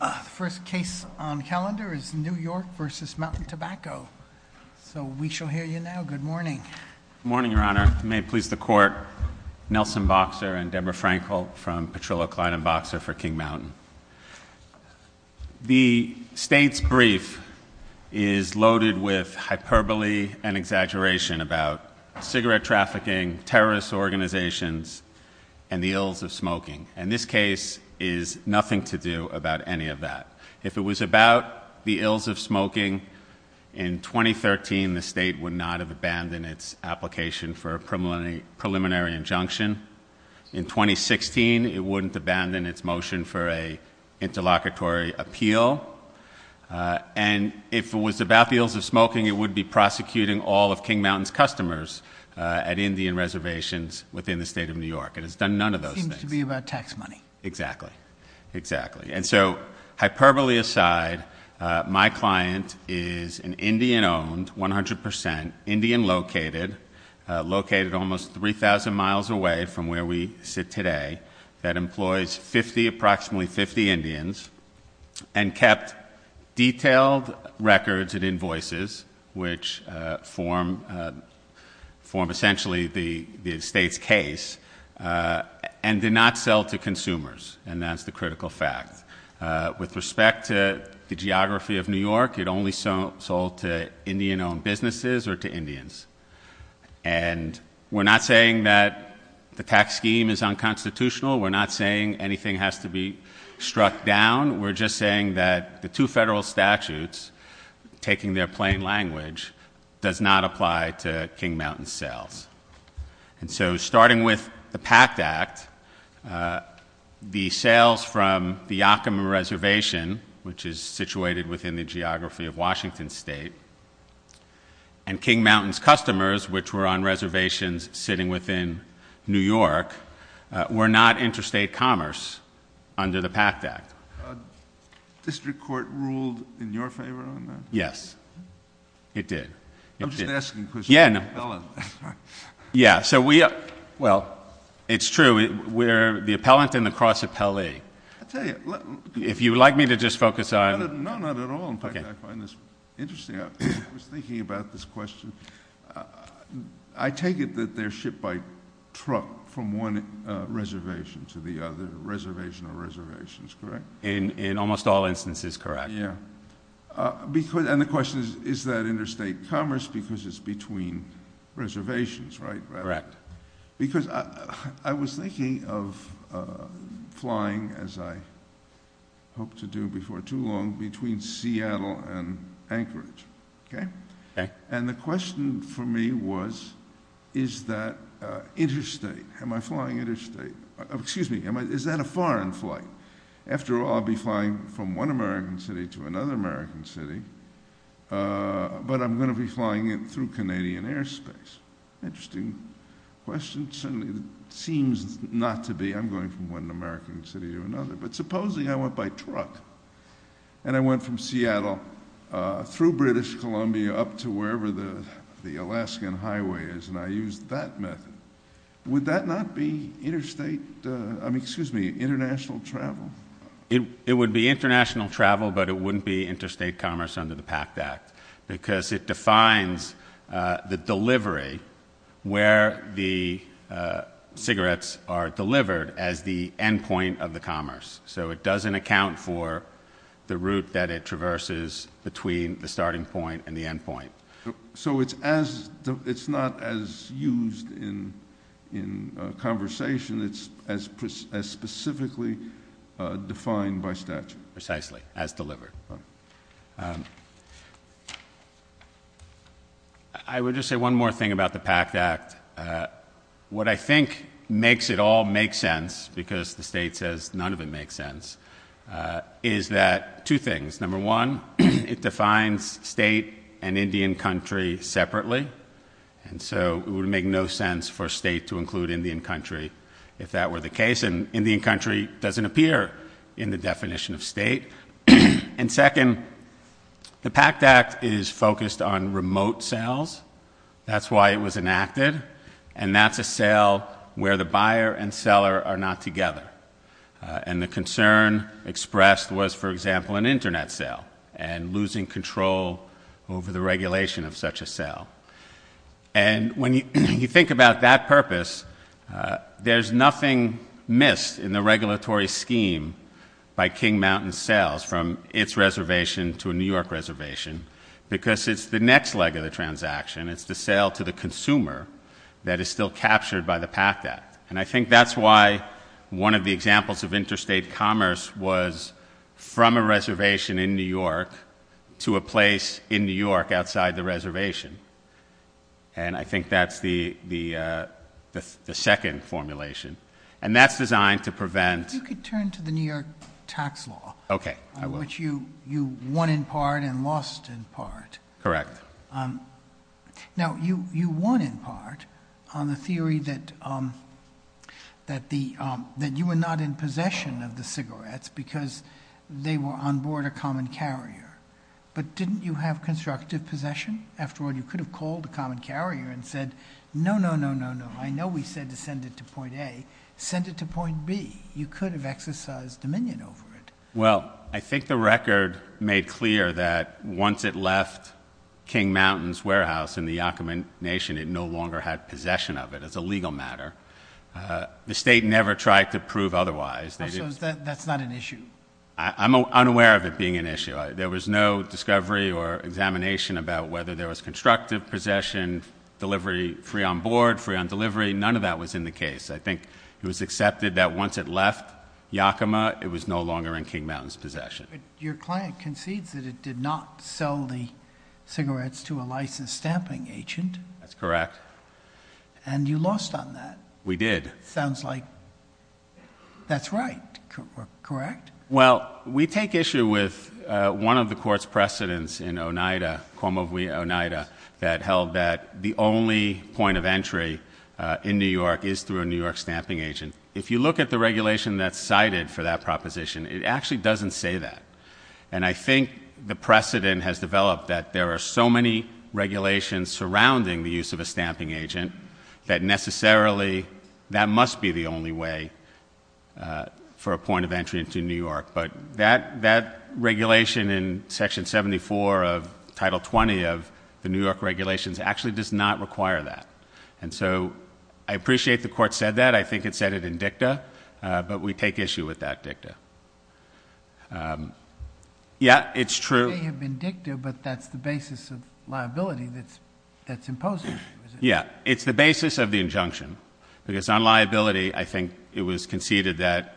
The first case on calendar is New York v. Mountain Tobacco. So we shall hear you now. Good morning. Good morning, Your Honor. May it please the Court, Nelson Boxer and Deborah Frankl from Petrillo Klein & Boxer for King Mountain. The state's brief is loaded with hyperbole and exaggeration about cigarette trafficking, terrorist organizations, and the ills of smoking. And this case is nothing to do about any of that. If it was about the ills of smoking, in 2013, the state would not have abandoned its application for a preliminary injunction. In 2016, it wouldn't abandon its motion for an interlocutory appeal. And if it was about the ills of smoking, it would be prosecuting all of King Mountain's customers at Indian reservations within the state of New York. It's done none of those things. It seems to be about tax money. Exactly. Exactly. And so, hyperbole aside, my client is an Indian-owned, 100%, Indian-located, located almost 3,000 miles away from where we sit today, that employs approximately 50 Indians and kept detailed records and invoices, which form essentially the state's case, and did not sell to consumers. And that's the critical fact. With respect to the geography of New York, it only sold to Indian-owned businesses or to Indians. And we're not saying that the tax scheme is unconstitutional. We're not saying anything has to be struck down. We're just saying that the two federal statutes, taking their plain language, does not apply to King Mountain's sales. And so, starting with the PACT Act, the sales from the Yakima Reservation, which is situated within the geography of Washington State, and King Mountain's customers, which were on reservations sitting within New York, were not interstate commerce under the PACT Act. District Court ruled in your favor on that? Yes, it did. I'm just asking a question. Yeah. Yeah. Well, it's true. We're the appellant and the cross-appellee. I'll tell you. If you'd like me to just focus on... No, not at all. In fact, I find this interesting. I was thinking about this question. I take it that they're shipped by truck from one reservation to the other, reservation or reservations, correct? In almost all instances, correct. Yeah. And the question is, is that interstate commerce because it's between reservations, right? Correct. Because I was thinking of flying, as I hoped to do before too long, between Seattle and Anchorage, okay? Okay. And the question for me was, is that interstate? Am I flying interstate? Excuse me, is that a foreign flight? After all, I'll be flying from one American city to another American city, but I'm going to be flying it through Canadian airspace. Interesting question. It seems not to be. I'm going from one American city to another. But supposing I went by truck and I went from Seattle through British Columbia up to wherever the Alaskan highway is and I used that method. Would that not be interstate, I mean, excuse me, international travel? It would be international travel, but it wouldn't be interstate commerce under the PACT Act because it defines the delivery where the cigarettes are delivered as the end point of the commerce. So it doesn't account for the route that it traverses between the starting point and the end point. So it's not as used in conversation. It's as specifically defined by statute. Precisely, as delivered. I would just say one more thing about the PACT Act. What I think makes it all make sense, because the state says none of it makes sense, is that two things. Number one, it defines state and Indian country separately. And so it would make no sense for state to include Indian country if that were the case. And Indian country doesn't appear in the definition of state. And second, the PACT Act is focused on remote sales. That's why it was enacted. And that's a sale where the buyer and seller are not together. And the concern expressed was, for example, an Internet sale and losing control over the regulation of such a sale. And when you think about that purpose, there's nothing missed in the regulatory scheme by King Mountain Sales from its reservation to a New York reservation because it's the next leg of the transaction. It's the sale to the consumer that is still captured by the PACT Act. And I think that's why one of the examples of interstate commerce was from a reservation in New York to a place in New York outside the reservation. And I think that's the second formulation. And that's designed to prevent- You could turn to the New York tax law. Okay, I will. Which you won in part and lost in part. Correct. Now, you won in part on the theory that you were not in possession of the cigarettes because they were on board a common carrier. But didn't you have constructive possession? After all, you could have called a common carrier and said, no, no, no, no, no. I know we said to send it to point A. Send it to point B. You could have exercised dominion over it. Well, I think the record made clear that once it left King Mountain's warehouse in the Yakima Nation, it no longer had possession of it. It's a legal matter. The state never tried to prove otherwise. So that's not an issue? I'm unaware of it being an issue. There was no discovery or examination about whether there was constructive possession, delivery free on board, free on delivery. None of that was in the case. I think it was accepted that once it left Yakima, it was no longer in King Mountain's possession. Your client concedes that it did not sell the cigarettes to a licensed stamping agent. That's correct. And you lost on that. We did. Sounds like that's right. Correct? Well, we take issue with one of the court's precedents in Oneida, Cuomo v. Oneida, that held that the only point of entry in New York is through a New York stamping agent. If you look at the regulation that's cited for that proposition, it actually doesn't say that. And I think the precedent has developed that there are so many regulations surrounding the use of a stamping agent that necessarily that must be the only way for a point of entry into New York. But that regulation in Section 74 of Title 20 of the New York regulations actually does not require that. And so I appreciate the court said that. I think it said it in dicta. But we take issue with that dicta. Yeah, it's true. It may have been dicta, but that's the basis of liability that's imposed on you, is it? Yeah. It's the basis of the injunction. Because on liability, I think it was conceded that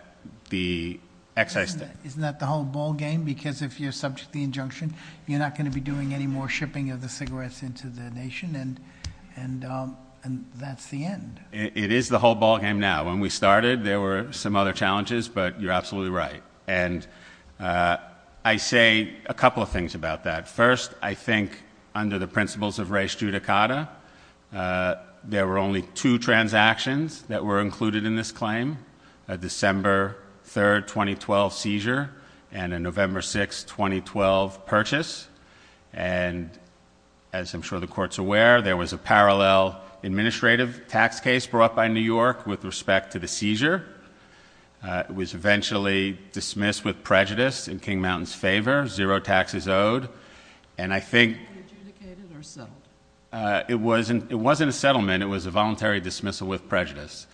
the excise stamp. Isn't that the whole ballgame? Because if you're subject to the injunction, you're not going to be doing any more shipping of the cigarettes into the nation. And that's the end. It is the whole ballgame now. When we started, there were some other challenges. But you're absolutely right. And I say a couple of things about that. First, I think under the principles of res judicata, there were only two transactions that were included in this claim, a December 3, 2012 seizure and a November 6, 2012 purchase. And as I'm sure the court's aware, there was a parallel administrative tax case brought by New York with respect to the seizure. It was eventually dismissed with prejudice in King Mountain's favor, zero taxes owed. And I think- Was it adjudicated or settled? It wasn't a settlement. It was a voluntary dismissal with prejudice.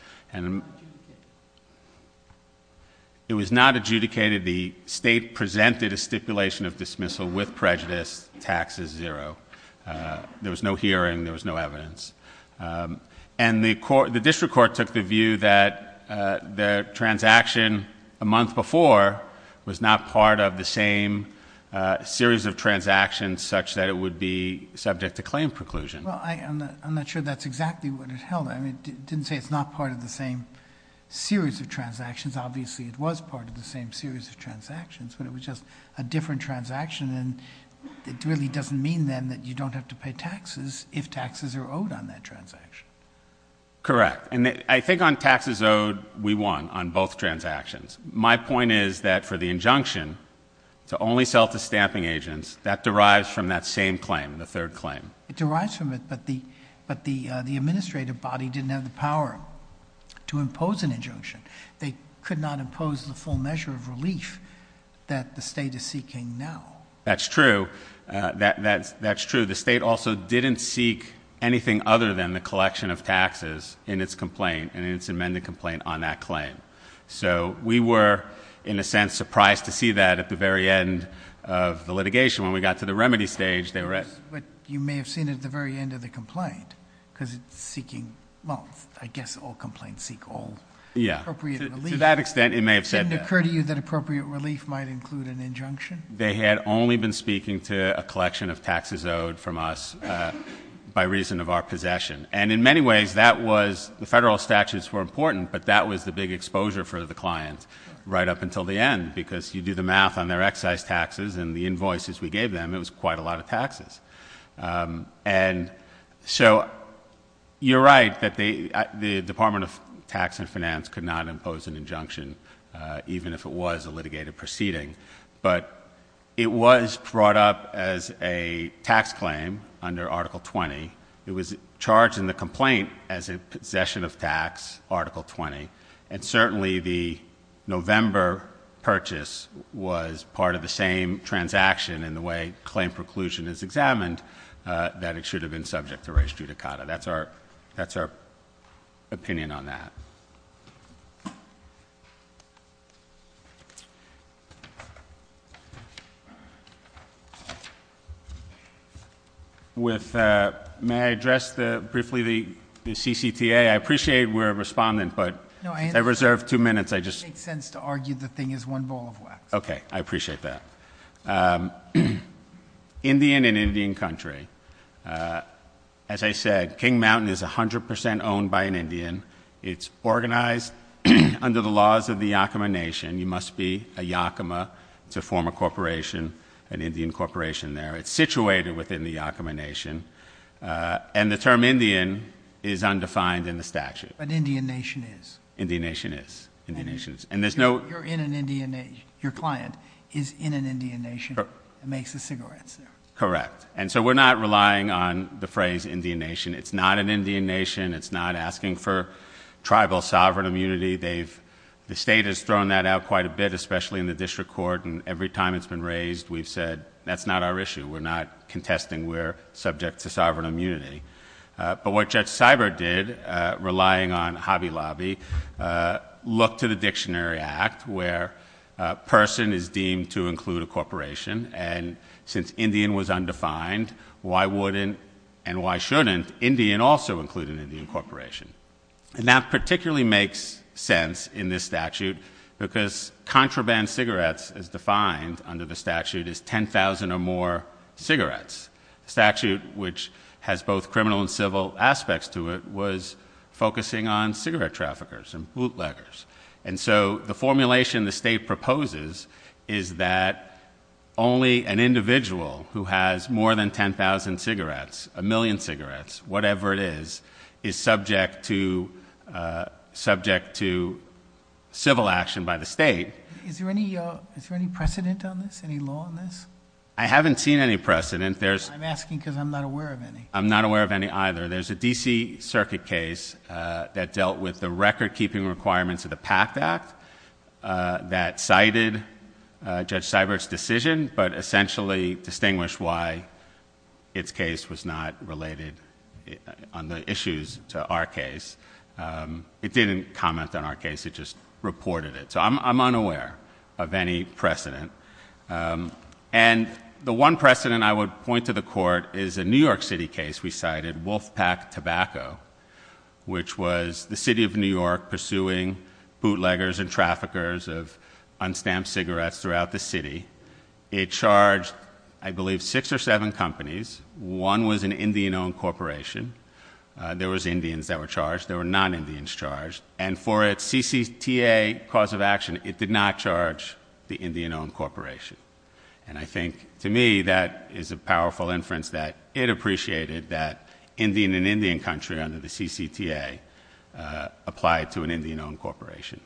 It was not adjudicated. The state presented a stipulation of dismissal with prejudice, taxes zero. There was no hearing. There was no evidence. And the district court took the view that the transaction a month before was not part of the same series of transactions such that it would be subject to claim preclusion. Well, I'm not sure that's exactly what it held. I mean, it didn't say it's not part of the same series of transactions. Obviously, it was part of the same series of transactions, but it was just a different transaction. And it really doesn't mean then that you don't have to pay taxes if taxes are owed on that transaction. Correct. And I think on taxes owed, we won on both transactions. My point is that for the injunction to only sell to stamping agents, that derives from that same claim, the third claim. It derives from it, but the administrative body didn't have the power to impose an injunction. They could not impose the full measure of relief that the state is seeking now. That's true. That's true. The state also didn't seek anything other than the collection of taxes in its complaint and in its amended complaint on that claim. So we were, in a sense, surprised to see that at the very end of the litigation when we got to the remedy stage. You may have seen it at the very end of the complaint, because it's seeking, well, I guess all complaints seek all appropriate relief. To that extent, it may have said that. Didn't it occur to you that appropriate relief might include an injunction? They had only been speaking to a collection of taxes owed from us by reason of our possession. And in many ways, the federal statutes were important, but that was the big exposure for the client right up until the end. Because you do the math on their excise taxes and the invoices we gave them, it was quite a lot of taxes. And so you're right that the Department of Tax and Finance could not impose an injunction, even if it was a litigated proceeding. But it was brought up as a tax claim under Article 20. It was charged in the complaint as a possession of tax, Article 20. And certainly the November purchase was part of the same transaction in the way claim preclusion is examined, that it should have been subject to res judicata. That's our opinion on that. With, may I address briefly the CCTA? I appreciate we're a respondent, but- No, I- I reserve two minutes, I just- It makes sense to argue the thing is one ball of wax. Okay, I appreciate that. Indian and Indian country. As I said, King Mountain is 100% owned by an Indian. It's organized under the laws of the Yakama Nation. You must be a Yakama. It's a former corporation, an Indian corporation there. It's situated within the Yakama Nation. And the term Indian is undefined in the statute. But Indian Nation is. Indian Nation is. And there's no- You're in an Indian Nation. Your client is in an Indian Nation and makes the cigarettes there. Correct. And so we're not relying on the phrase Indian Nation. It's not an Indian Nation. It's not asking for tribal sovereign immunity. The state has thrown that out quite a bit, especially in the district court. And every time it's been raised, we've said, that's not our issue. We're not contesting. We're subject to sovereign immunity. But what Judge Seibert did, relying on Hobby Lobby, looked to the Dictionary Act where a person is deemed to include a corporation. And since Indian was undefined, why wouldn't and why shouldn't Indian also include an Indian corporation? And that particularly makes sense in this statute because contraband cigarettes, as defined under the statute, is 10,000 or more cigarettes. The statute, which has both criminal and civil aspects to it, was focusing on cigarette traffickers and bootleggers. And so the formulation the state proposes is that only an individual who has more than 10,000 cigarettes, a million cigarettes, whatever it is, is subject to civil action by the state. Is there any precedent on this, any law on this? I haven't seen any precedent. I'm asking because I'm not aware of any. I'm not aware of any either. There's a D.C. Circuit case that dealt with the record-keeping requirements of the PACT Act that cited Judge Seibert's decision but essentially distinguished why its case was not related on the issues to our case. It didn't comment on our case. It just reported it. So I'm unaware of any precedent. And the one precedent I would point to the court is a New York City case we cited, Wolfpack Tobacco, which was the city of New York pursuing bootleggers and traffickers of unstamped cigarettes throughout the city. It charged, I believe, six or seven companies. One was an Indian-owned corporation. There was Indians that were charged. There were non-Indians charged. And for its CCTA cause of action, it did not charge the Indian-owned corporation. And I think, to me, that is a powerful inference that it appreciated that Indian and Indian country under the CCTA applied to an Indian-owned corporation.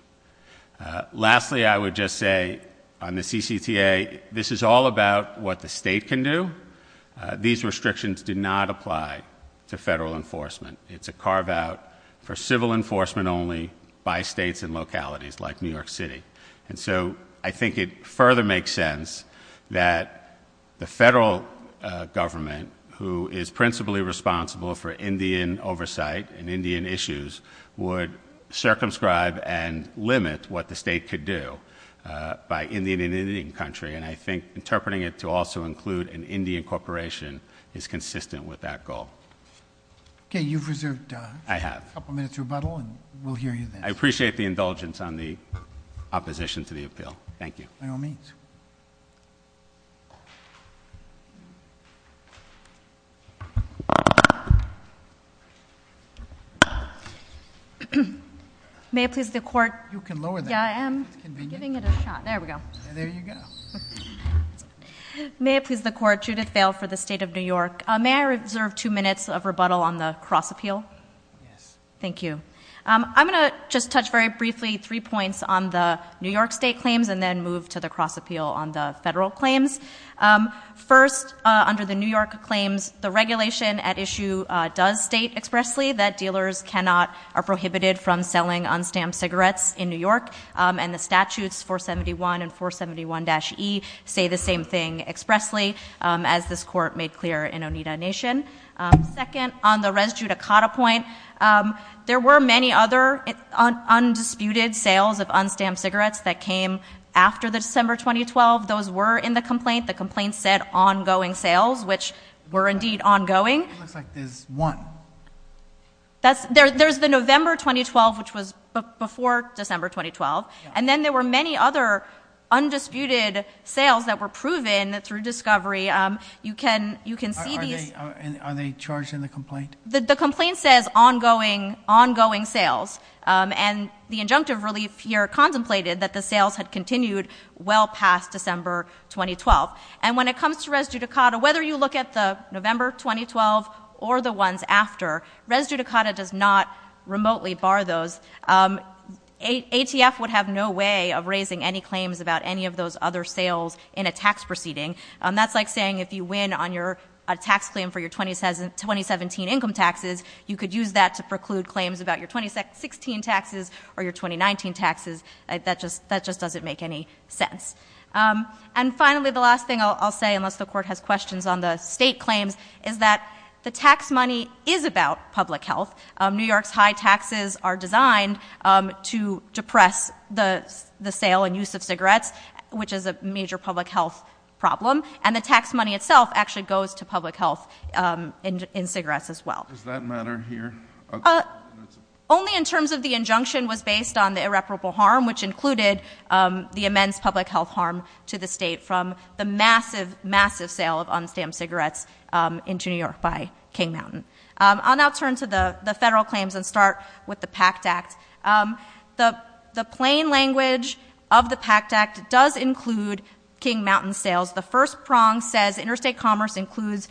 Lastly, I would just say on the CCTA, this is all about what the state can do. These restrictions do not apply to federal enforcement. It's a carve-out for civil enforcement only by states and localities like New York City. And so I think it further makes sense that the federal government, who is principally responsible for Indian oversight and Indian issues, would circumscribe and limit what the state could do by Indian and Indian country. And I think interpreting it to also include an Indian corporation is consistent with that goal. Okay, you've reserved a couple minutes rebuttal, and we'll hear you then. I appreciate the indulgence on the opposition to the appeal. Thank you. By all means. May it please the court- You can lower that. Yeah, I am giving it a shot. There we go. There you go. May it please the court, Judith Vail for the State of New York. May I reserve two minutes of rebuttal on the cross appeal? Yes. Thank you. I'm going to just touch very briefly three points on the New York State claims, and then move to the cross appeal on the federal claims. First, under the New York claims, the regulation at issue does state expressly that dealers cannot or are prohibited from selling un-stamped cigarettes in New York. And the statutes 471 and 471-E say the same thing expressly, as this court made clear in Oneida Nation. Second, on the Res Judicata point, there were many other undisputed sales of un-stamped cigarettes that came after December 2012. Those were in the complaint. The complaint said ongoing sales, which were indeed ongoing. It looks like there's one. There's the November 2012, which was before December 2012. And then there were many other undisputed sales that were proven through discovery. You can see these- Are they charged in the complaint? The complaint says ongoing sales, and the injunctive relief here contemplated that the sales had continued well past December 2012. And when it comes to Res Judicata, whether you look at the November 2012 or the ones after, Res Judicata does not remotely bar those. ATF would have no way of raising any claims about any of those other sales in a tax proceeding. That's like saying if you win on your tax claim for your 2017 income taxes, you could use that to preclude claims about your 2016 taxes or your 2019 taxes. That just doesn't make any sense. And finally, the last thing I'll say, unless the court has questions on the state claims, is that the tax money is about public health. New York's high taxes are designed to depress the sale and use of cigarettes, which is a major public health problem. And the tax money itself actually goes to public health in cigarettes as well. Does that matter here? Only in terms of the injunction was based on the irreparable harm, which included the immense public health harm to the state from the massive, massive sale of un-stamped cigarettes into New York by King Mountain. I'll now turn to the federal claims and start with the PACT Act. The plain language of the PACT Act does include King Mountain sales. The first prong says interstate commerce includes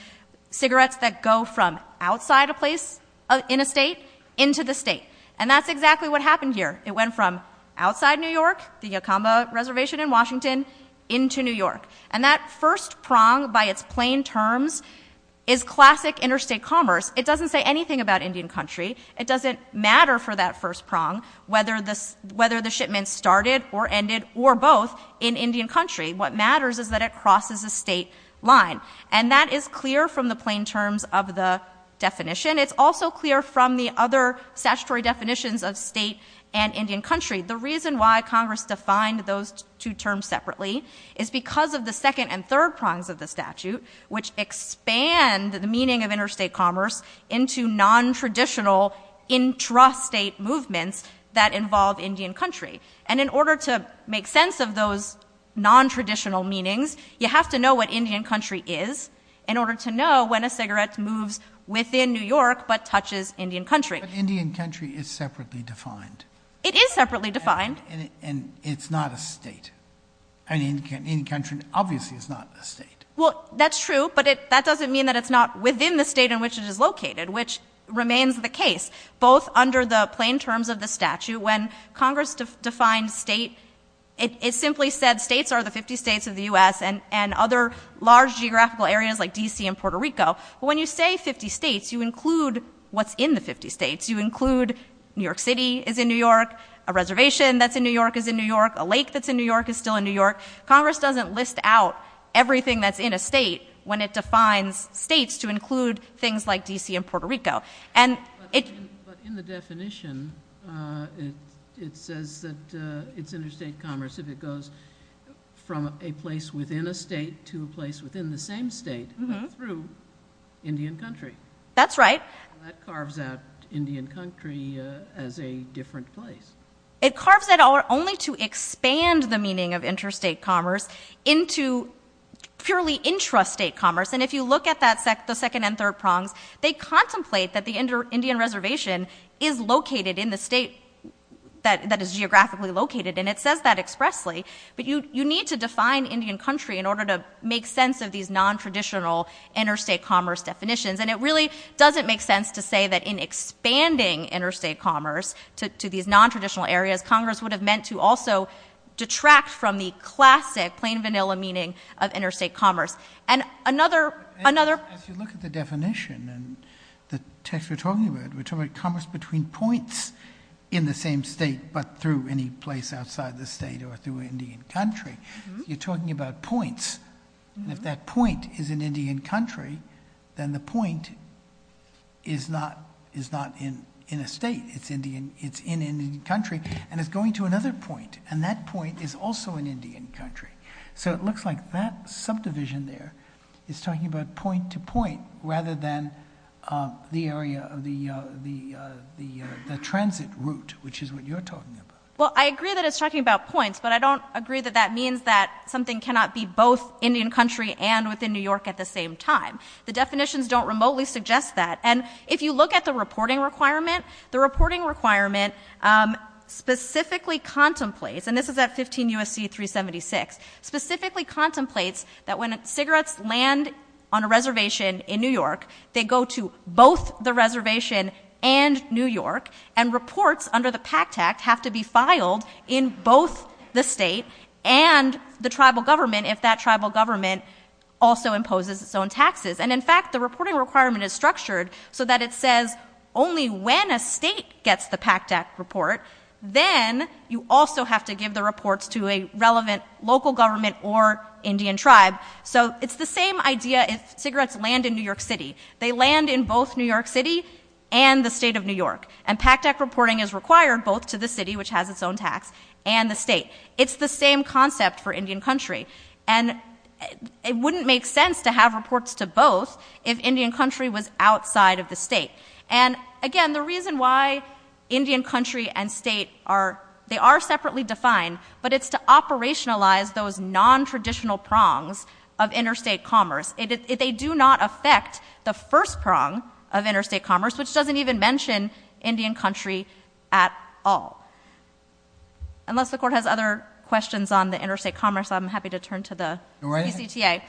cigarettes that go from outside a place in a state into the state. And that's exactly what happened here. It went from outside New York, the Yocamba Reservation in Washington, into New York. And that first prong, by its plain terms, is classic interstate commerce. It doesn't say anything about Indian country. It doesn't matter for that first prong whether the shipment started or ended or both in Indian country. What matters is that it crosses a state line. And that is clear from the plain terms of the definition. It's also clear from the other statutory definitions of state and Indian country. The reason why Congress defined those two terms separately is because of the second and third prongs of the statute, which expand the meaning of interstate commerce into nontraditional intrastate movements that involve Indian country. And in order to make sense of those nontraditional meanings, you have to know what Indian country is in order to know when a cigarette moves within New York but touches Indian country. But Indian country is separately defined. It is separately defined. And it's not a state. I mean, Indian country obviously is not a state. Well, that's true, but that doesn't mean that it's not within the state in which it is located, which remains the case. Both under the plain terms of the statute, when Congress defined state, it simply said states are the 50 states of the U.S. and other large geographical areas like D.C. and Puerto Rico. But when you say 50 states, you include what's in the 50 states. You include New York City is in New York. A reservation that's in New York is in New York. A lake that's in New York is still in New York. Congress doesn't list out everything that's in a state when it defines states to include things like D.C. and Puerto Rico. But in the definition, it says that it's interstate commerce if it goes from a place within a state to a place within the same state but through Indian country. That's right. That carves out Indian country as a different place. It carves that out only to expand the meaning of interstate commerce into purely intrastate commerce. And if you look at the second and third prongs, they contemplate that the Indian reservation is located in the state that is geographically located. And it says that expressly. But you need to define Indian country in order to make sense of these nontraditional interstate commerce definitions. And it really doesn't make sense to say that in expanding interstate commerce to these nontraditional areas, Congress would have meant to also detract from the classic plain vanilla meaning of interstate commerce. And another... If you look at the definition and the text we're talking about, we're talking about commerce between points in the same state but through any place outside the state or through Indian country. You're talking about points. And if that point is in Indian country, then the point is not in a state. It's in Indian country. And it's going to another point. And that point is also in Indian country. So it looks like that subdivision there is talking about point to point rather than the area of the transit route, which is what you're talking about. Well, I agree that it's talking about points. But I don't agree that that means that something cannot be both Indian country and within New York at the same time. The definitions don't remotely suggest that. And if you look at the reporting requirement, the reporting requirement specifically contemplates, and this is at 15 U.S.C. 376, specifically contemplates that when cigarettes land on a reservation in New York, they go to both the reservation and New York. And reports under the PACT Act have to be filed in both the state and the tribal government if that tribal government also imposes its own taxes. And in fact, the reporting requirement is structured so that it says only when a state gets the PACT Act report, then you also have to give the reports to a relevant local government or Indian tribe. So it's the same idea if cigarettes land in New York City. They land in both New York City and the state of New York. And PACT Act reporting is required both to the city, which has its own tax, and the state. It's the same concept for Indian country. And it wouldn't make sense to have reports to both if Indian country was outside of the state. And again, the reason why Indian country and state are, they are separately defined, but it's to operationalize those nontraditional prongs of interstate commerce. They do not affect the first prong of interstate commerce, which doesn't even mention Indian country at all. Unless the court has other questions on the interstate commerce, I'm happy to turn to the PCTA.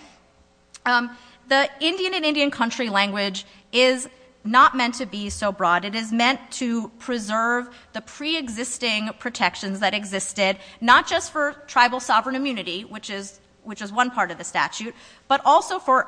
The Indian and Indian country language is not meant to be so broad. It is meant to preserve the preexisting protections that existed, not just for tribal sovereign immunity, which is one part of the statute, but also for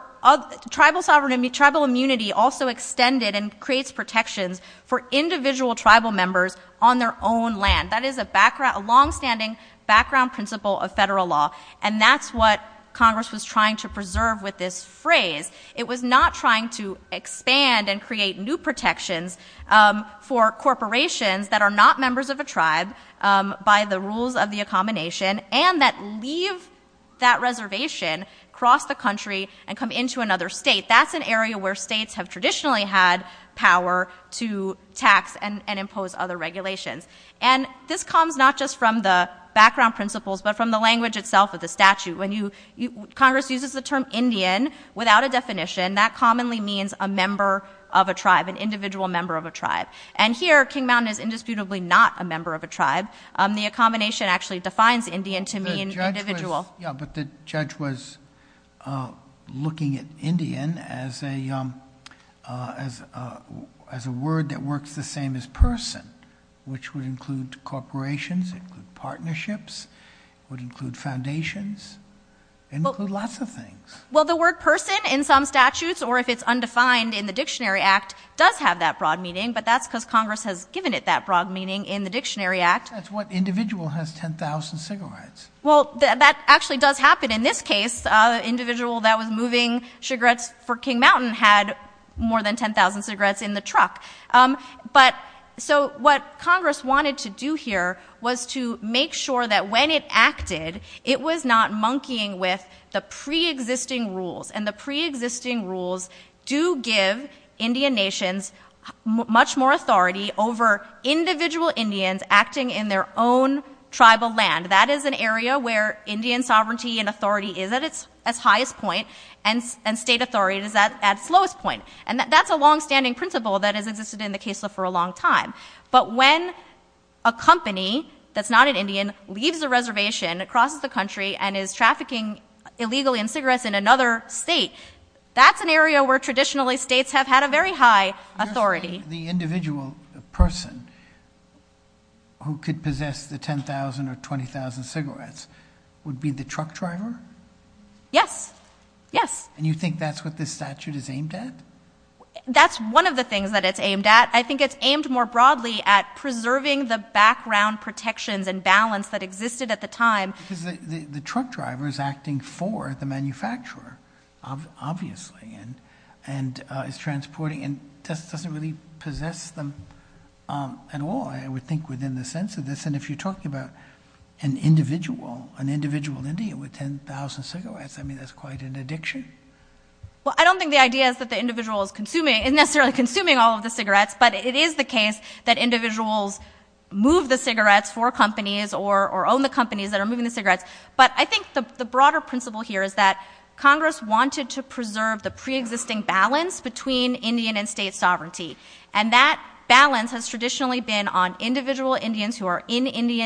tribal sovereignty. Tribal immunity also extended and creates protections for individual tribal members on their own land. That is a background, a longstanding background principle of federal law. And that's what Congress was trying to preserve with this phrase. It was not trying to expand and create new protections for corporations that are not members of a tribe by the rules of the accommodation and that leave that reservation, cross the country, and come into another state. That's an area where states have traditionally had power to tax and impose other regulations. And this comes not just from the background principles, but from the language itself of the statute. Congress uses the term Indian without a definition. That commonly means a member of a tribe, an individual member of a tribe. And here, King Mountain is indisputably not a member of a tribe. The accommodation actually defines Indian to mean individual. Yeah, but the judge was looking at Indian as a word that works the same as person, which would include corporations, include partnerships, would include foundations, include lots of things. Well, the word person in some statutes or if it's undefined in the Dictionary Act does have that broad meaning, but that's because Congress has given it that broad meaning in the Dictionary Act. That's what individual has 10,000 cigarettes. Well, that actually does happen in this case. Individual that was moving cigarettes for King Mountain had more than 10,000 cigarettes in the truck. But so what Congress wanted to do here was to make sure that when it acted, it was not monkeying with the preexisting rules. And the preexisting rules do give Indian nations much more authority over individual Indians acting in their own tribal land. That is an area where Indian sovereignty and authority is at its highest point, and state authority is at its lowest point. And that's a longstanding principle that has existed in the case law for a long time. But when a company that's not an Indian leaves a reservation, crosses the country and is trafficking illegally in cigarettes in another state, that's an area where traditionally states have had a very high authority. The individual person who could possess the 10,000 or 20,000 cigarettes would be the truck driver? Yes. Yes. And you think that's what this statute is aimed at? That's one of the things that it's aimed at. I think it's aimed more broadly at preserving the background protections and balance that existed at the time. Because the truck driver is acting for the manufacturer, obviously, and is transporting and doesn't really possess them at all, I would think, within the sense of this. And if you're talking about an individual Indian with 10,000 cigarettes, I mean, that's quite an addiction. Well, I don't think the idea is that the individual is necessarily consuming all of the cigarettes, but it is the case that individuals move the cigarettes for companies or own the companies that are moving the cigarettes. But I think the broader principle here is that Congress wanted to preserve the preexisting balance between Indian and state sovereignty. And that balance has traditionally been on individual Indians who are in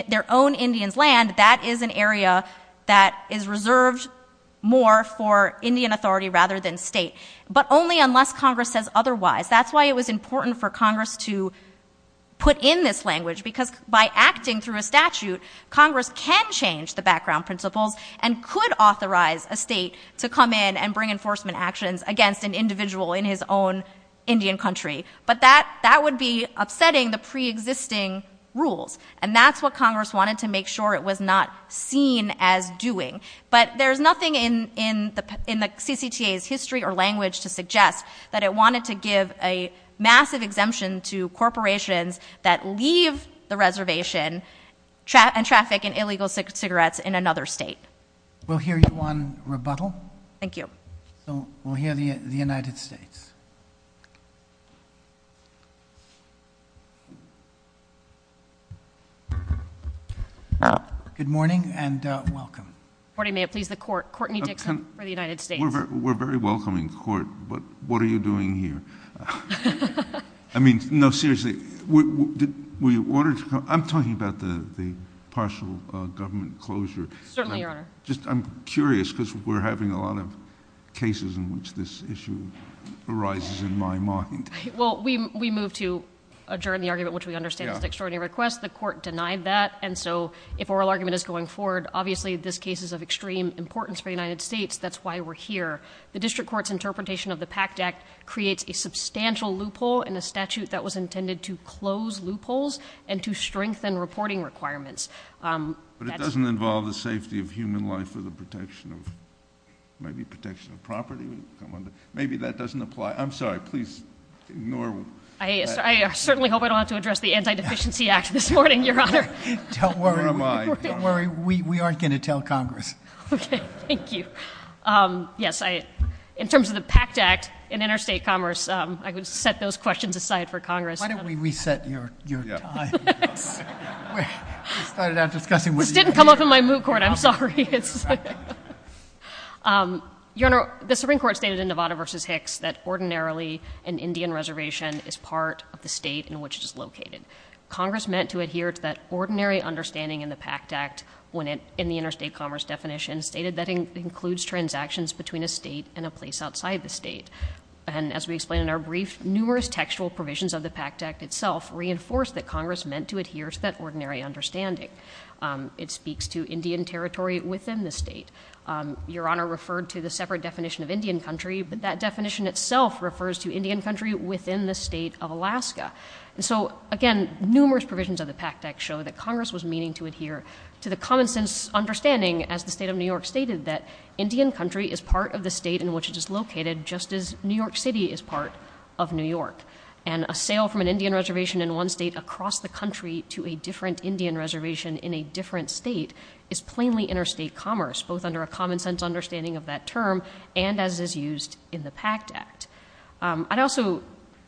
their own Indian's land. That is an area that is reserved more for Indian authority rather than state. But only unless Congress says otherwise. That's why it was important for Congress to put in this language. Because by acting through a statute, Congress can change the background principles and could authorize a state to come in and bring enforcement actions against an individual in his own Indian country. But that would be upsetting the preexisting rules. And that's what Congress wanted to make sure it was not seen as doing. But there's nothing in the CCTA's history or language to suggest that it wanted to give a massive exemption to corporations that leave the reservation and traffic in illegal cigarettes in another state. We'll hear you on rebuttal. Thank you. We'll hear the United States. Good morning and welcome. Court may have pleased the court. Courtney Dixon for the United States. We're a very welcoming court, but what are you doing here? I mean, no, seriously. Were you ordered to come? I'm talking about the partial government closure. Certainly, Your Honor. I'm curious because we're having a lot of cases in which this issue arises in my mind. Well, we move to adjourn the argument, which we understand is an extraordinary request. The court denied that, and so if oral argument is going forward, obviously this case is of extreme importance for the United States. That's why we're here. The district court's interpretation of the PACT Act creates a substantial loophole in a statute that was intended to close loopholes and to strengthen reporting requirements. But it doesn't involve the safety of human life or the protection of property. Maybe that doesn't apply. I'm sorry. Please ignore. I certainly hope I don't have to address the Anti-Deficiency Act this morning, Your Honor. Don't worry. Don't worry. We aren't going to tell Congress. Okay. Thank you. Yes. In terms of the PACT Act and interstate commerce, I would set those questions aside for Congress. Why don't we reset your time? We started out discussing what you had to say. This didn't come up in my moot court. I'm sorry. Your Honor, the Supreme Court stated in Nevada v. Hicks that ordinarily an Indian reservation is part of the state in which it is located. Congress meant to adhere to that ordinary understanding in the PACT Act in the interstate commerce definition, stated that it includes transactions between a state and a place outside the state. And as we explained in our brief, numerous textual provisions of the PACT Act itself reinforce that Congress meant to adhere to that ordinary understanding. It speaks to Indian territory within the state. Your Honor referred to the separate definition of Indian country, but that definition itself refers to Indian country within the state of Alaska. And so, again, numerous provisions of the PACT Act show that Congress was meaning to adhere to the common sense understanding, as the state of New York stated, that Indian country is part of the state in which it is located, just as New York City is part of New York. And a sale from an Indian reservation in one state across the country to a different Indian reservation in a different state is plainly interstate commerce, both under a common sense understanding of that term and as is used in the PACT Act. I'd also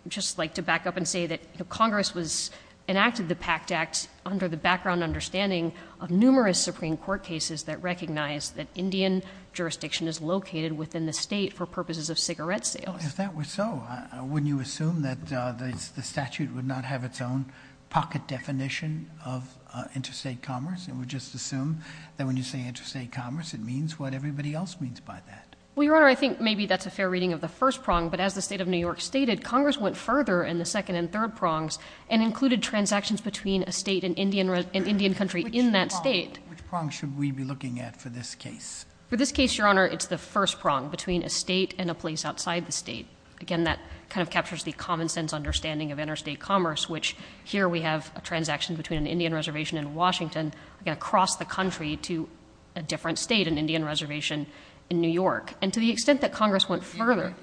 just like to back up and say that Congress was... enacted the PACT Act under the background understanding of numerous Supreme Court cases that recognize that Indian jurisdiction is located within the state for purposes of cigarette sales. If that were so, wouldn't you assume that the statute would not have its own pocket definition of interstate commerce and would just assume that when you say interstate commerce, it means what everybody else means by that? Well, Your Honor, I think maybe that's a fair reading of the first prong, but as the state of New York stated, Congress went further in the second and third prongs and included transactions between a state and Indian country in that state. Which prong should we be looking at for this case? For this case, Your Honor, it's the first prong, between a state and a place outside the state. Again, that kind of captures the common-sense understanding of interstate commerce, which here we have a transaction between an Indian reservation in Washington and across the country to a different state, an Indian reservation in New York. And to the extent that Congress went further...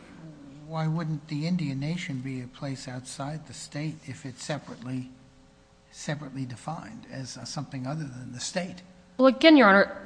Why wouldn't the Indian nation be a place outside the state if it's separately defined as something other than the state? Well, again, Your Honor,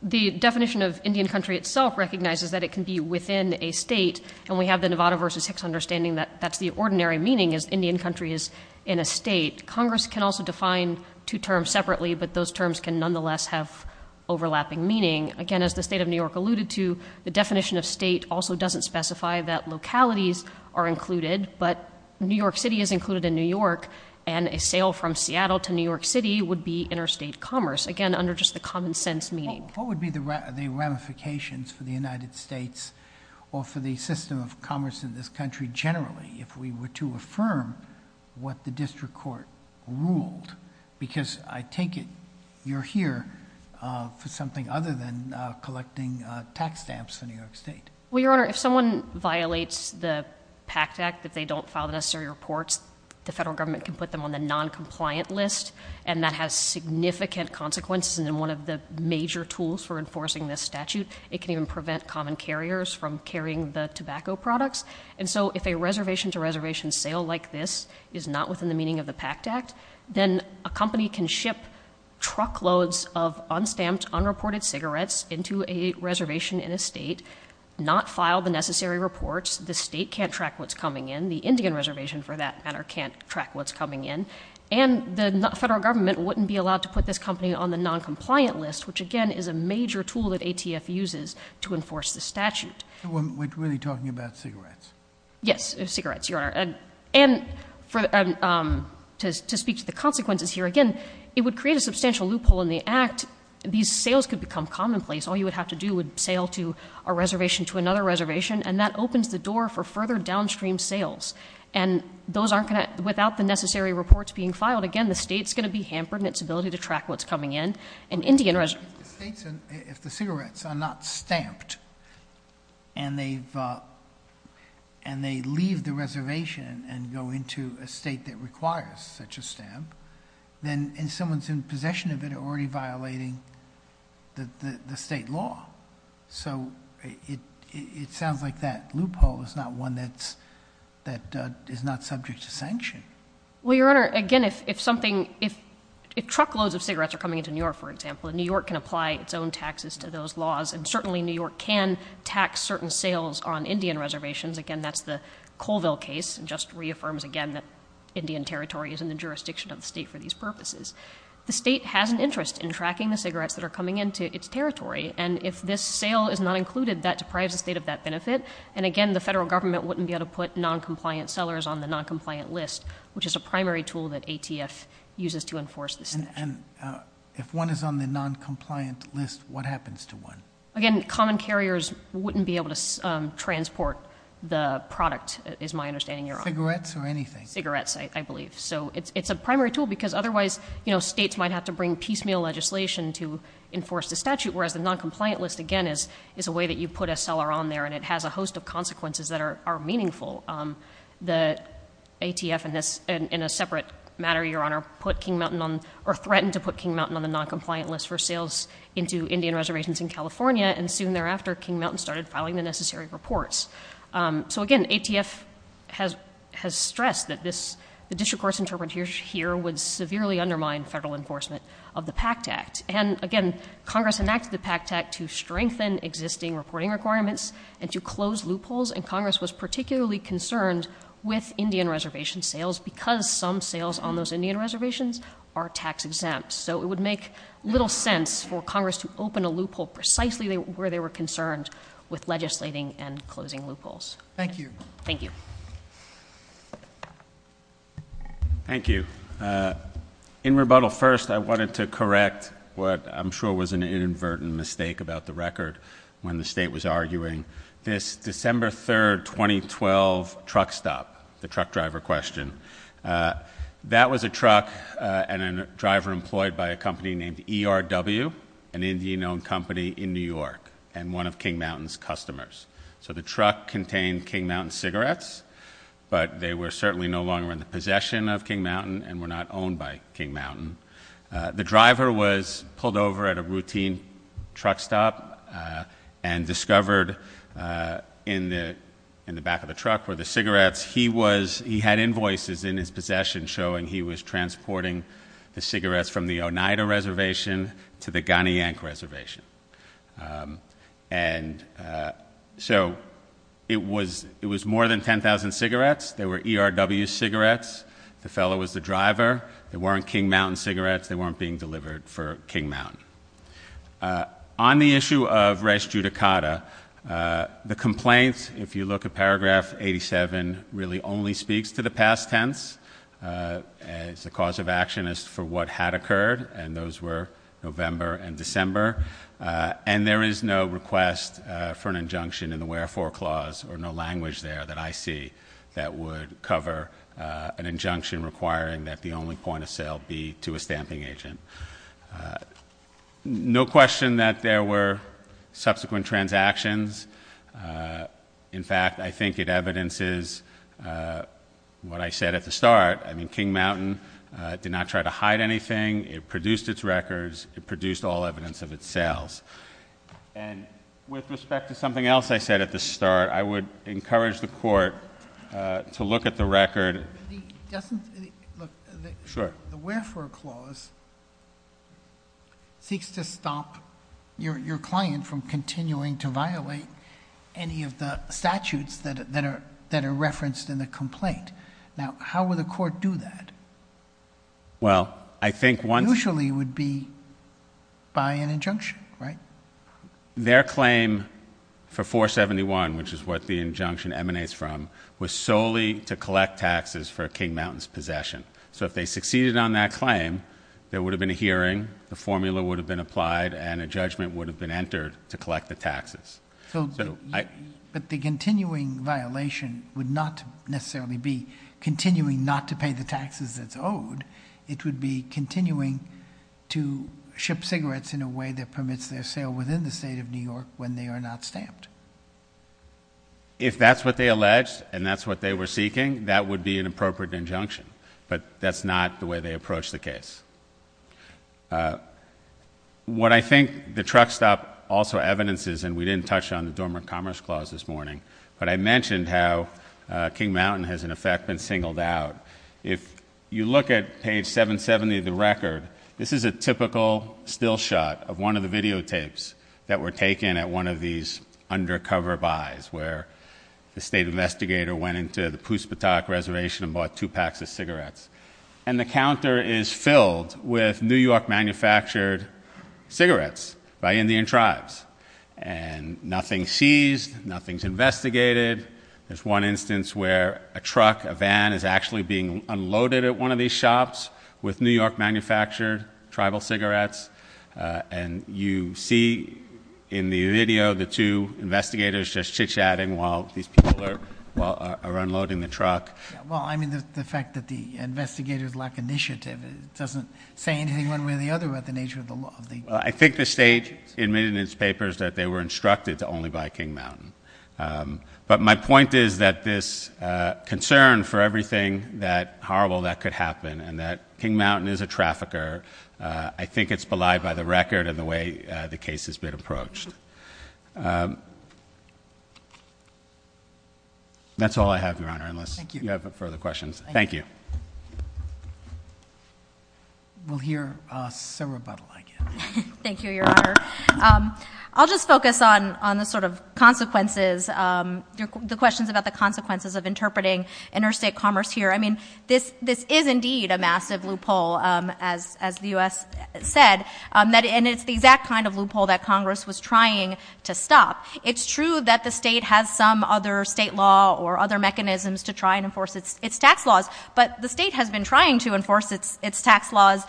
the definition of Indian country itself recognizes that it can be within a state and we have the Nevada v. Hicks understanding that that's the ordinary meaning is Indian country is in a state. Congress can also define two terms separately, but those terms can nonetheless have overlapping meaning. Again, as the state of New York alluded to, the definition of state also doesn't specify that localities are included, but New York City is included in New York and a sale from Seattle to New York City would be interstate commerce. Again, under just the common-sense meaning. What would be the ramifications for the United States or for the system of commerce in this country generally if we were to affirm what the district court ruled? Because I take it you're here for something other than collecting tax stamps for New York State. Well, Your Honor, if someone violates the PACT Act, if they don't file the necessary reports, the federal government can put them on the noncompliant list and that has significant consequences and one of the major tools for enforcing this statute, it can even prevent common carriers from carrying the tobacco products. And so if a reservation-to-reservation sale like this is not within the meaning of the PACT Act, then a company can ship truckloads of unstamped, unreported cigarettes into a reservation in a state, not file the necessary reports, the state can't track what's coming in, the Indian reservation, for that matter, can't track what's coming in, and the federal government wouldn't be allowed to put this company on the noncompliant list, which, again, is a major tool that ATF uses to enforce this statute. We're really talking about cigarettes? Yes, cigarettes, Your Honor. And to speak to the consequences here, again, it would create a substantial loophole in the Act. These sales could become commonplace. All you would have to do would sail to a reservation, to another reservation, and that opens the door for further downstream sales. And without the necessary reports being filed, again, the state's going to be hampered in its ability to track what's coming in. If the cigarettes are not stamped and they leave the reservation and go into a state that requires such a stamp, then someone's in possession of it already violating the state law. So it sounds like that loophole is not one that is not subject to sanction. Well, Your Honor, again, if truckloads of cigarettes are coming into New York, for example, New York can apply its own taxes to those laws, and certainly New York can tax certain sales on Indian reservations. Again, that's the Colville case. It just reaffirms again that Indian territory is in the jurisdiction of the state for these purposes. The state has an interest in tracking the cigarettes that are coming into its territory, and if this sale is not included, that deprives the state of that benefit, and again, the federal government wouldn't be able to put noncompliant sellers on the noncompliant list, which is a primary tool that ATF uses to enforce the statute. And if one is on the noncompliant list, what happens to one? Again, common carriers wouldn't be able to transport the product, is my understanding, Your Honor. Cigarettes or anything? Cigarettes, I believe. So it's a primary tool, because otherwise, states might have to bring piecemeal legislation to enforce the statute, whereas the noncompliant list, again, is a way that you put a seller on there, and it has a host of consequences that are meaningful. The ATF, in a separate matter, Your Honor, put King Mountain on, or threatened to put King Mountain on the noncompliant list for sales into Indian reservations in California, and soon thereafter, King Mountain started filing the necessary reports. So again, ATF has stressed that this, the district court's interpretation here would severely undermine federal enforcement of the PACT Act, and again, Congress enacted the PACT Act to strengthen existing reporting requirements and to close loopholes, and Congress was particularly concerned with Indian reservation sales, because some sales on those Indian reservations are tax-exempt. So it would make little sense for Congress to open a loophole precisely where they were concerned with legislating and closing loopholes. Thank you. Thank you. Thank you. In rebuttal, first, I wanted to correct what I'm sure was an inadvertent mistake about the record when the state was arguing. This December 3, 2012 truck stop, the truck driver question, that was a truck and a driver employed by a company named ERW, an Indian-owned company in New York, and one of King Mountain's customers. So the truck contained King Mountain cigarettes, but they were certainly no longer in the possession of King Mountain and were not owned by King Mountain. The driver was pulled over at a routine truck stop and discovered in the back of the truck were the cigarettes he was... He had invoices in his possession showing he was transporting the cigarettes from the Oneida Reservation to the Ghana Yank Reservation. And so it was more than 10,000 cigarettes. They were ERW cigarettes. The fellow was the driver. They weren't King Mountain cigarettes. They weren't being delivered for King Mountain. On the issue of res judicata, the complaint, if you look at paragraph 87, really only speaks to the past tense. It's the cause of action is for what had occurred, and those were November and December. And there is no request for an injunction in the wherefore clause or no language there that I see that would cover an injunction requiring that the only point of sale be to a stamping agent. No question that there were subsequent transactions. In fact, I think it evidences what I said at the start. I mean, King Mountain did not try to hide anything. It produced its records. It produced all evidence of its sales. And with respect to something else I said at the start, I would encourage the Court to look at the record... Sure. The wherefore clause seeks to stop your client from continuing to violate any of the statutes that are referenced in the complaint. Now, how would the Court do that? Well, I think once... Usually it would be by an injunction, right? Their claim for 471, which is what the injunction emanates from, was solely to collect taxes for King Mountain's possession. So if they succeeded on that claim, there would have been a hearing, the formula would have been applied, and a judgment would have been entered to collect the taxes. But the continuing violation would not necessarily be continuing not to pay the taxes that's owed. It would be continuing to ship cigarettes in a way that permits their sale within the state of New York when they are not stamped. If that's what they alleged and that's what they were seeking, that would be an appropriate injunction. But that's not the way they approached the case. What I think the truck stop also evidences, and we didn't touch on the Dormant Commerce Clause this morning, but I mentioned how King Mountain has, in effect, been singled out. If you look at page 770 of the record, this is a typical still shot of one of the videotapes that were taken at one of these undercover buys where the state investigator went into the Puspatak Reservation and bought two packs of cigarettes. And the counter is filled with New York-manufactured cigarettes by Indian tribes. And nothing's seized, nothing's investigated. There's one instance where a truck, a van, is actually being unloaded at one of these shops with New York-manufactured tribal cigarettes, and you see in the video the two investigators just chit-chatting while these people are unloading the truck. Well, I mean, the fact that the investigators lack initiative doesn't say anything one way or the other about the nature of the law. I think the state admitted in its papers that they were instructed to only buy King Mountain. But my point is that this concern for everything horrible that could happen and that King Mountain is a trafficker, I think it's belied by the record and the way the case has been approached. That's all I have, Your Honor, unless you have further questions. Thank you. We'll hear Sarah Butler again. Thank you, Your Honor. I'll just focus on the sort of consequences, the questions about the consequences of interpreting interstate commerce here. I mean, this is indeed a massive loophole as the U.S. said, and it's the exact kind of loophole that Congress was trying to stop. It's true that the state has some other state law or other mechanisms to try and enforce its tax laws, but the state has been trying to enforce its tax laws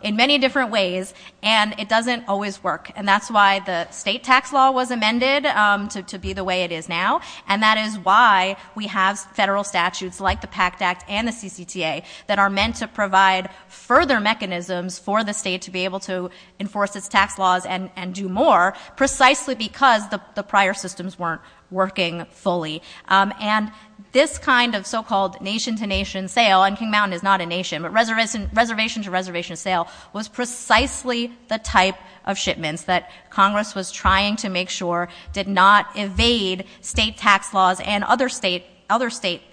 in many different ways, and it doesn't always work. And that's why the state tax law was amended to be the way it is now, and that is why we have federal statutes like the PACT Act and the CCTA that are meant to provide further mechanisms for the state to be able to enforce its tax laws and do more precisely because the prior systems weren't working fully. And this kind of so-called nation-to-nation sale, and King Mountain is not a nation, but reservation-to-reservation sale was precisely the type of shipments that Congress was trying to make sure did not evade state tax laws and other state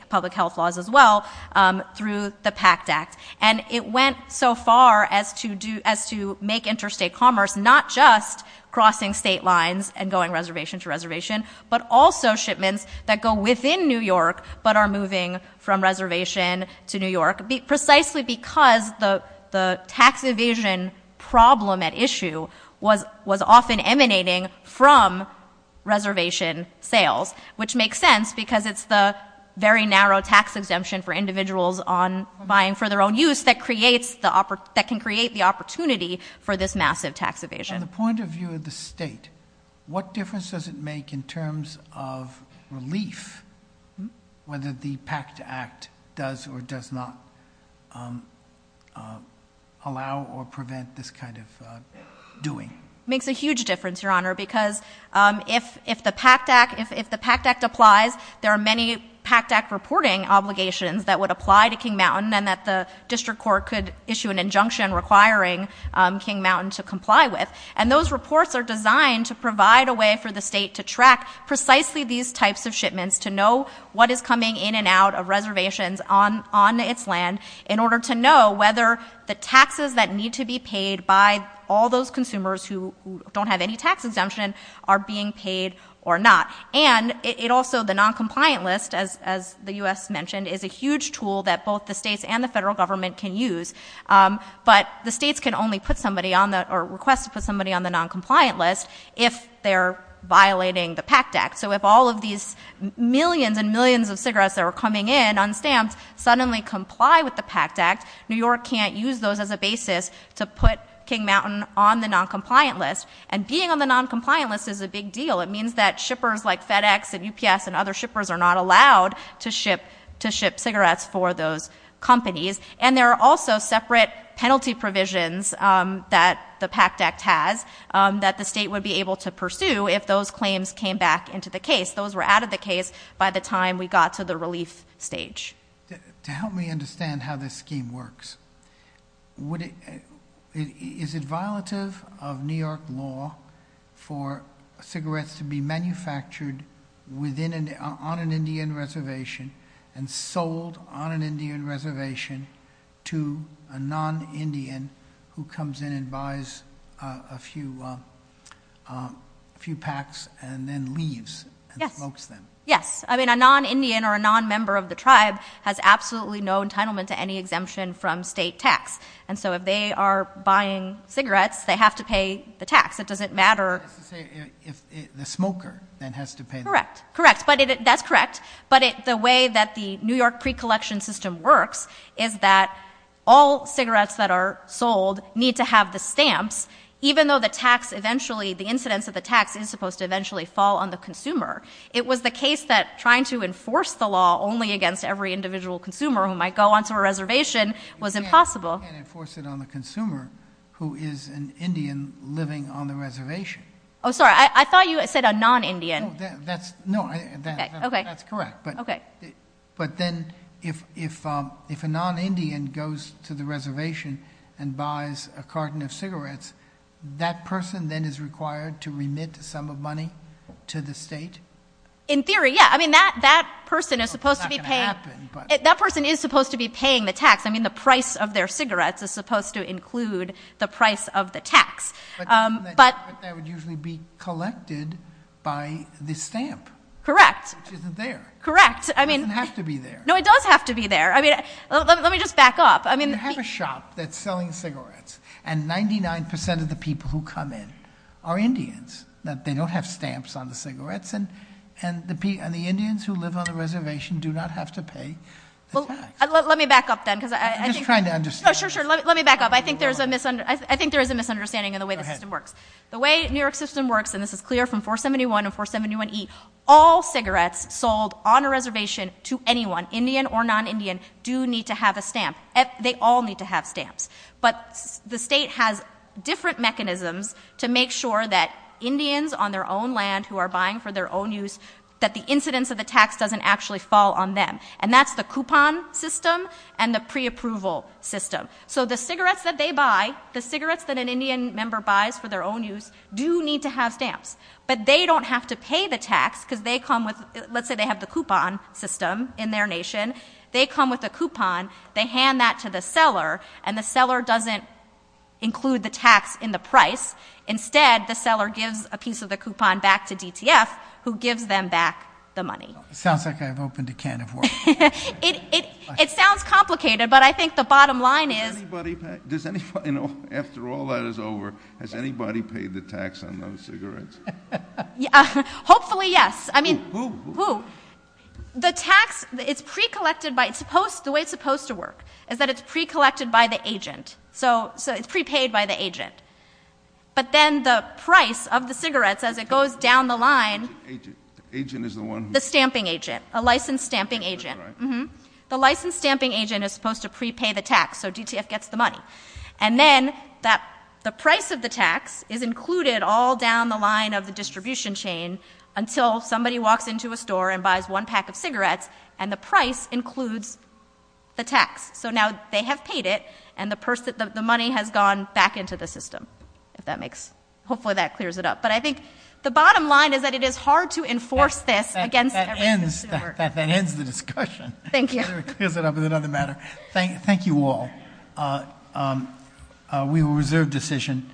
public health laws as well through the PACT Act. And it went so far as to make interstate commerce not just crossing state lines and going reservation-to-reservation, but also shipments that go within New York but are moving from reservation to New York precisely because the tax evasion problem at issue was often emanating from reservation sales, which makes sense because it's the very narrow tax exemption for individuals on buying for their own use that can create the opportunity for this massive tax evasion. From the point of view of the state, what difference does it make in terms of relief whether the PACT Act does or does not allow or prevent this kind of doing? It makes a huge difference, Your Honor, because if the PACT Act applies, there are many PACT Act reporting obligations that would apply to King Mountain and that the district court could issue an injunction requiring King Mountain to comply with. And those reports are designed to provide a way for the state to track precisely these types of shipments to know what is coming in and out of reservations on its land in order to know whether the taxes that need to be paid by all those consumers who don't have any tax exemption are being paid or not. And it also, the noncompliant list, as the U.S. mentioned, is a huge tool that both the states and the federal government can use. But the states can only put somebody on the... or request to put somebody on the noncompliant list if they're violating the PACT Act. So if all of these millions and millions of cigarettes that are coming in unstamped suddenly comply with the PACT Act, New York can't use those as a basis to put King Mountain on the noncompliant list. And being on the noncompliant list is a big deal. It means that shippers like FedEx and UPS and other shippers are not allowed to ship cigarettes for those companies. And there are also separate penalty provisions that the PACT Act has that the state would be able to pursue if those claims came back into the case. Those were out of the case by the time we got to the relief stage. To help me understand how this scheme works, is it violative of New York law for cigarettes to be manufactured on an Indian reservation and sold on an Indian reservation to a non-Indian who comes in and buys a few packs and then leaves and smokes them? Yes. I mean, a non-Indian or a non-member of the tribe has absolutely no entitlement to any exemption from state tax. And so if they are buying cigarettes, they have to pay the tax. It doesn't matter... That's to say if the smoker then has to pay the tax. Correct. That's correct. But the way that the New York pre-collection system works is that all cigarettes that are sold need to have the stamps, even though the tax eventually, the incidence of the tax is supposed to eventually fall on the consumer. It was the case that trying to enforce the law only against every individual consumer who might go onto a reservation was impossible. You can't enforce it on the consumer who is an Indian living on the reservation. Oh, sorry. I thought you said a non-Indian. No. That's correct. Okay. But then if a non-Indian goes to the reservation and buys a carton of cigarettes, that person then is required to remit some of money to the state? In theory, yeah. I mean, that person is supposed to be paying... It's not going to happen, but... That person is supposed to be paying the tax. I mean, the price of their cigarettes is supposed to include the price of the tax. But that would usually be collected by the stamp. Correct. Which isn't there. Correct. I mean... It doesn't have to be there. No, it does have to be there. I mean, let me just back up. You have a shop that's selling cigarettes, and 99% of the people who come in are Indians. They don't have stamps on the cigarettes, and the Indians who live on the reservation do not have to pay the tax. Let me back up then, because I think... Let me back up. I think there is a misunderstanding in the way the system works. Go ahead. The way New York system works, and this is clear from 471 and 471E, all cigarettes sold on a reservation to anyone, Indian or non-Indian, do need to have a stamp. They all need to have stamps. But the state has different mechanisms to make sure that Indians on their own land who are buying for their own use, that the incidence of the tax doesn't actually fall on them. And that's the coupon system and the preapproval system. So the cigarettes that they buy, the cigarettes that an Indian member buys for their own use, do need to have stamps. But they don't have to pay the tax, because they come with... Let's say they have the coupon system in their nation. They come with a coupon. They hand that to the seller, and the seller doesn't include the tax in the price. Instead, the seller gives a piece of the coupon back to DTF, who gives them back the money. Sounds like I've opened a can of worms. It sounds complicated, but I think the bottom line is... After all that is over, has anybody paid the tax on those cigarettes? Hopefully, yes. Who? The tax, it's pre-collected by... The way it's supposed to work is that it's pre-collected by the agent. So it's pre-paid by the agent. But then the price of the cigarettes, as it goes down the line... The agent is the one who... The stamping agent, a licensed stamping agent. The licensed stamping agent is supposed to pre-pay the tax, so DTF gets the money. And then the price of the tax is included all down the line of the distribution chain until somebody walks into a store and buys one pack of cigarettes, and the price includes the tax. So now they have paid it, and the money has gone back into the system. Hopefully that clears it up. But I think the bottom line is that it is hard to enforce this against every consumer. That ends the discussion. Thank you. Clears it up with another matter. Thank you all. We will reserve decision.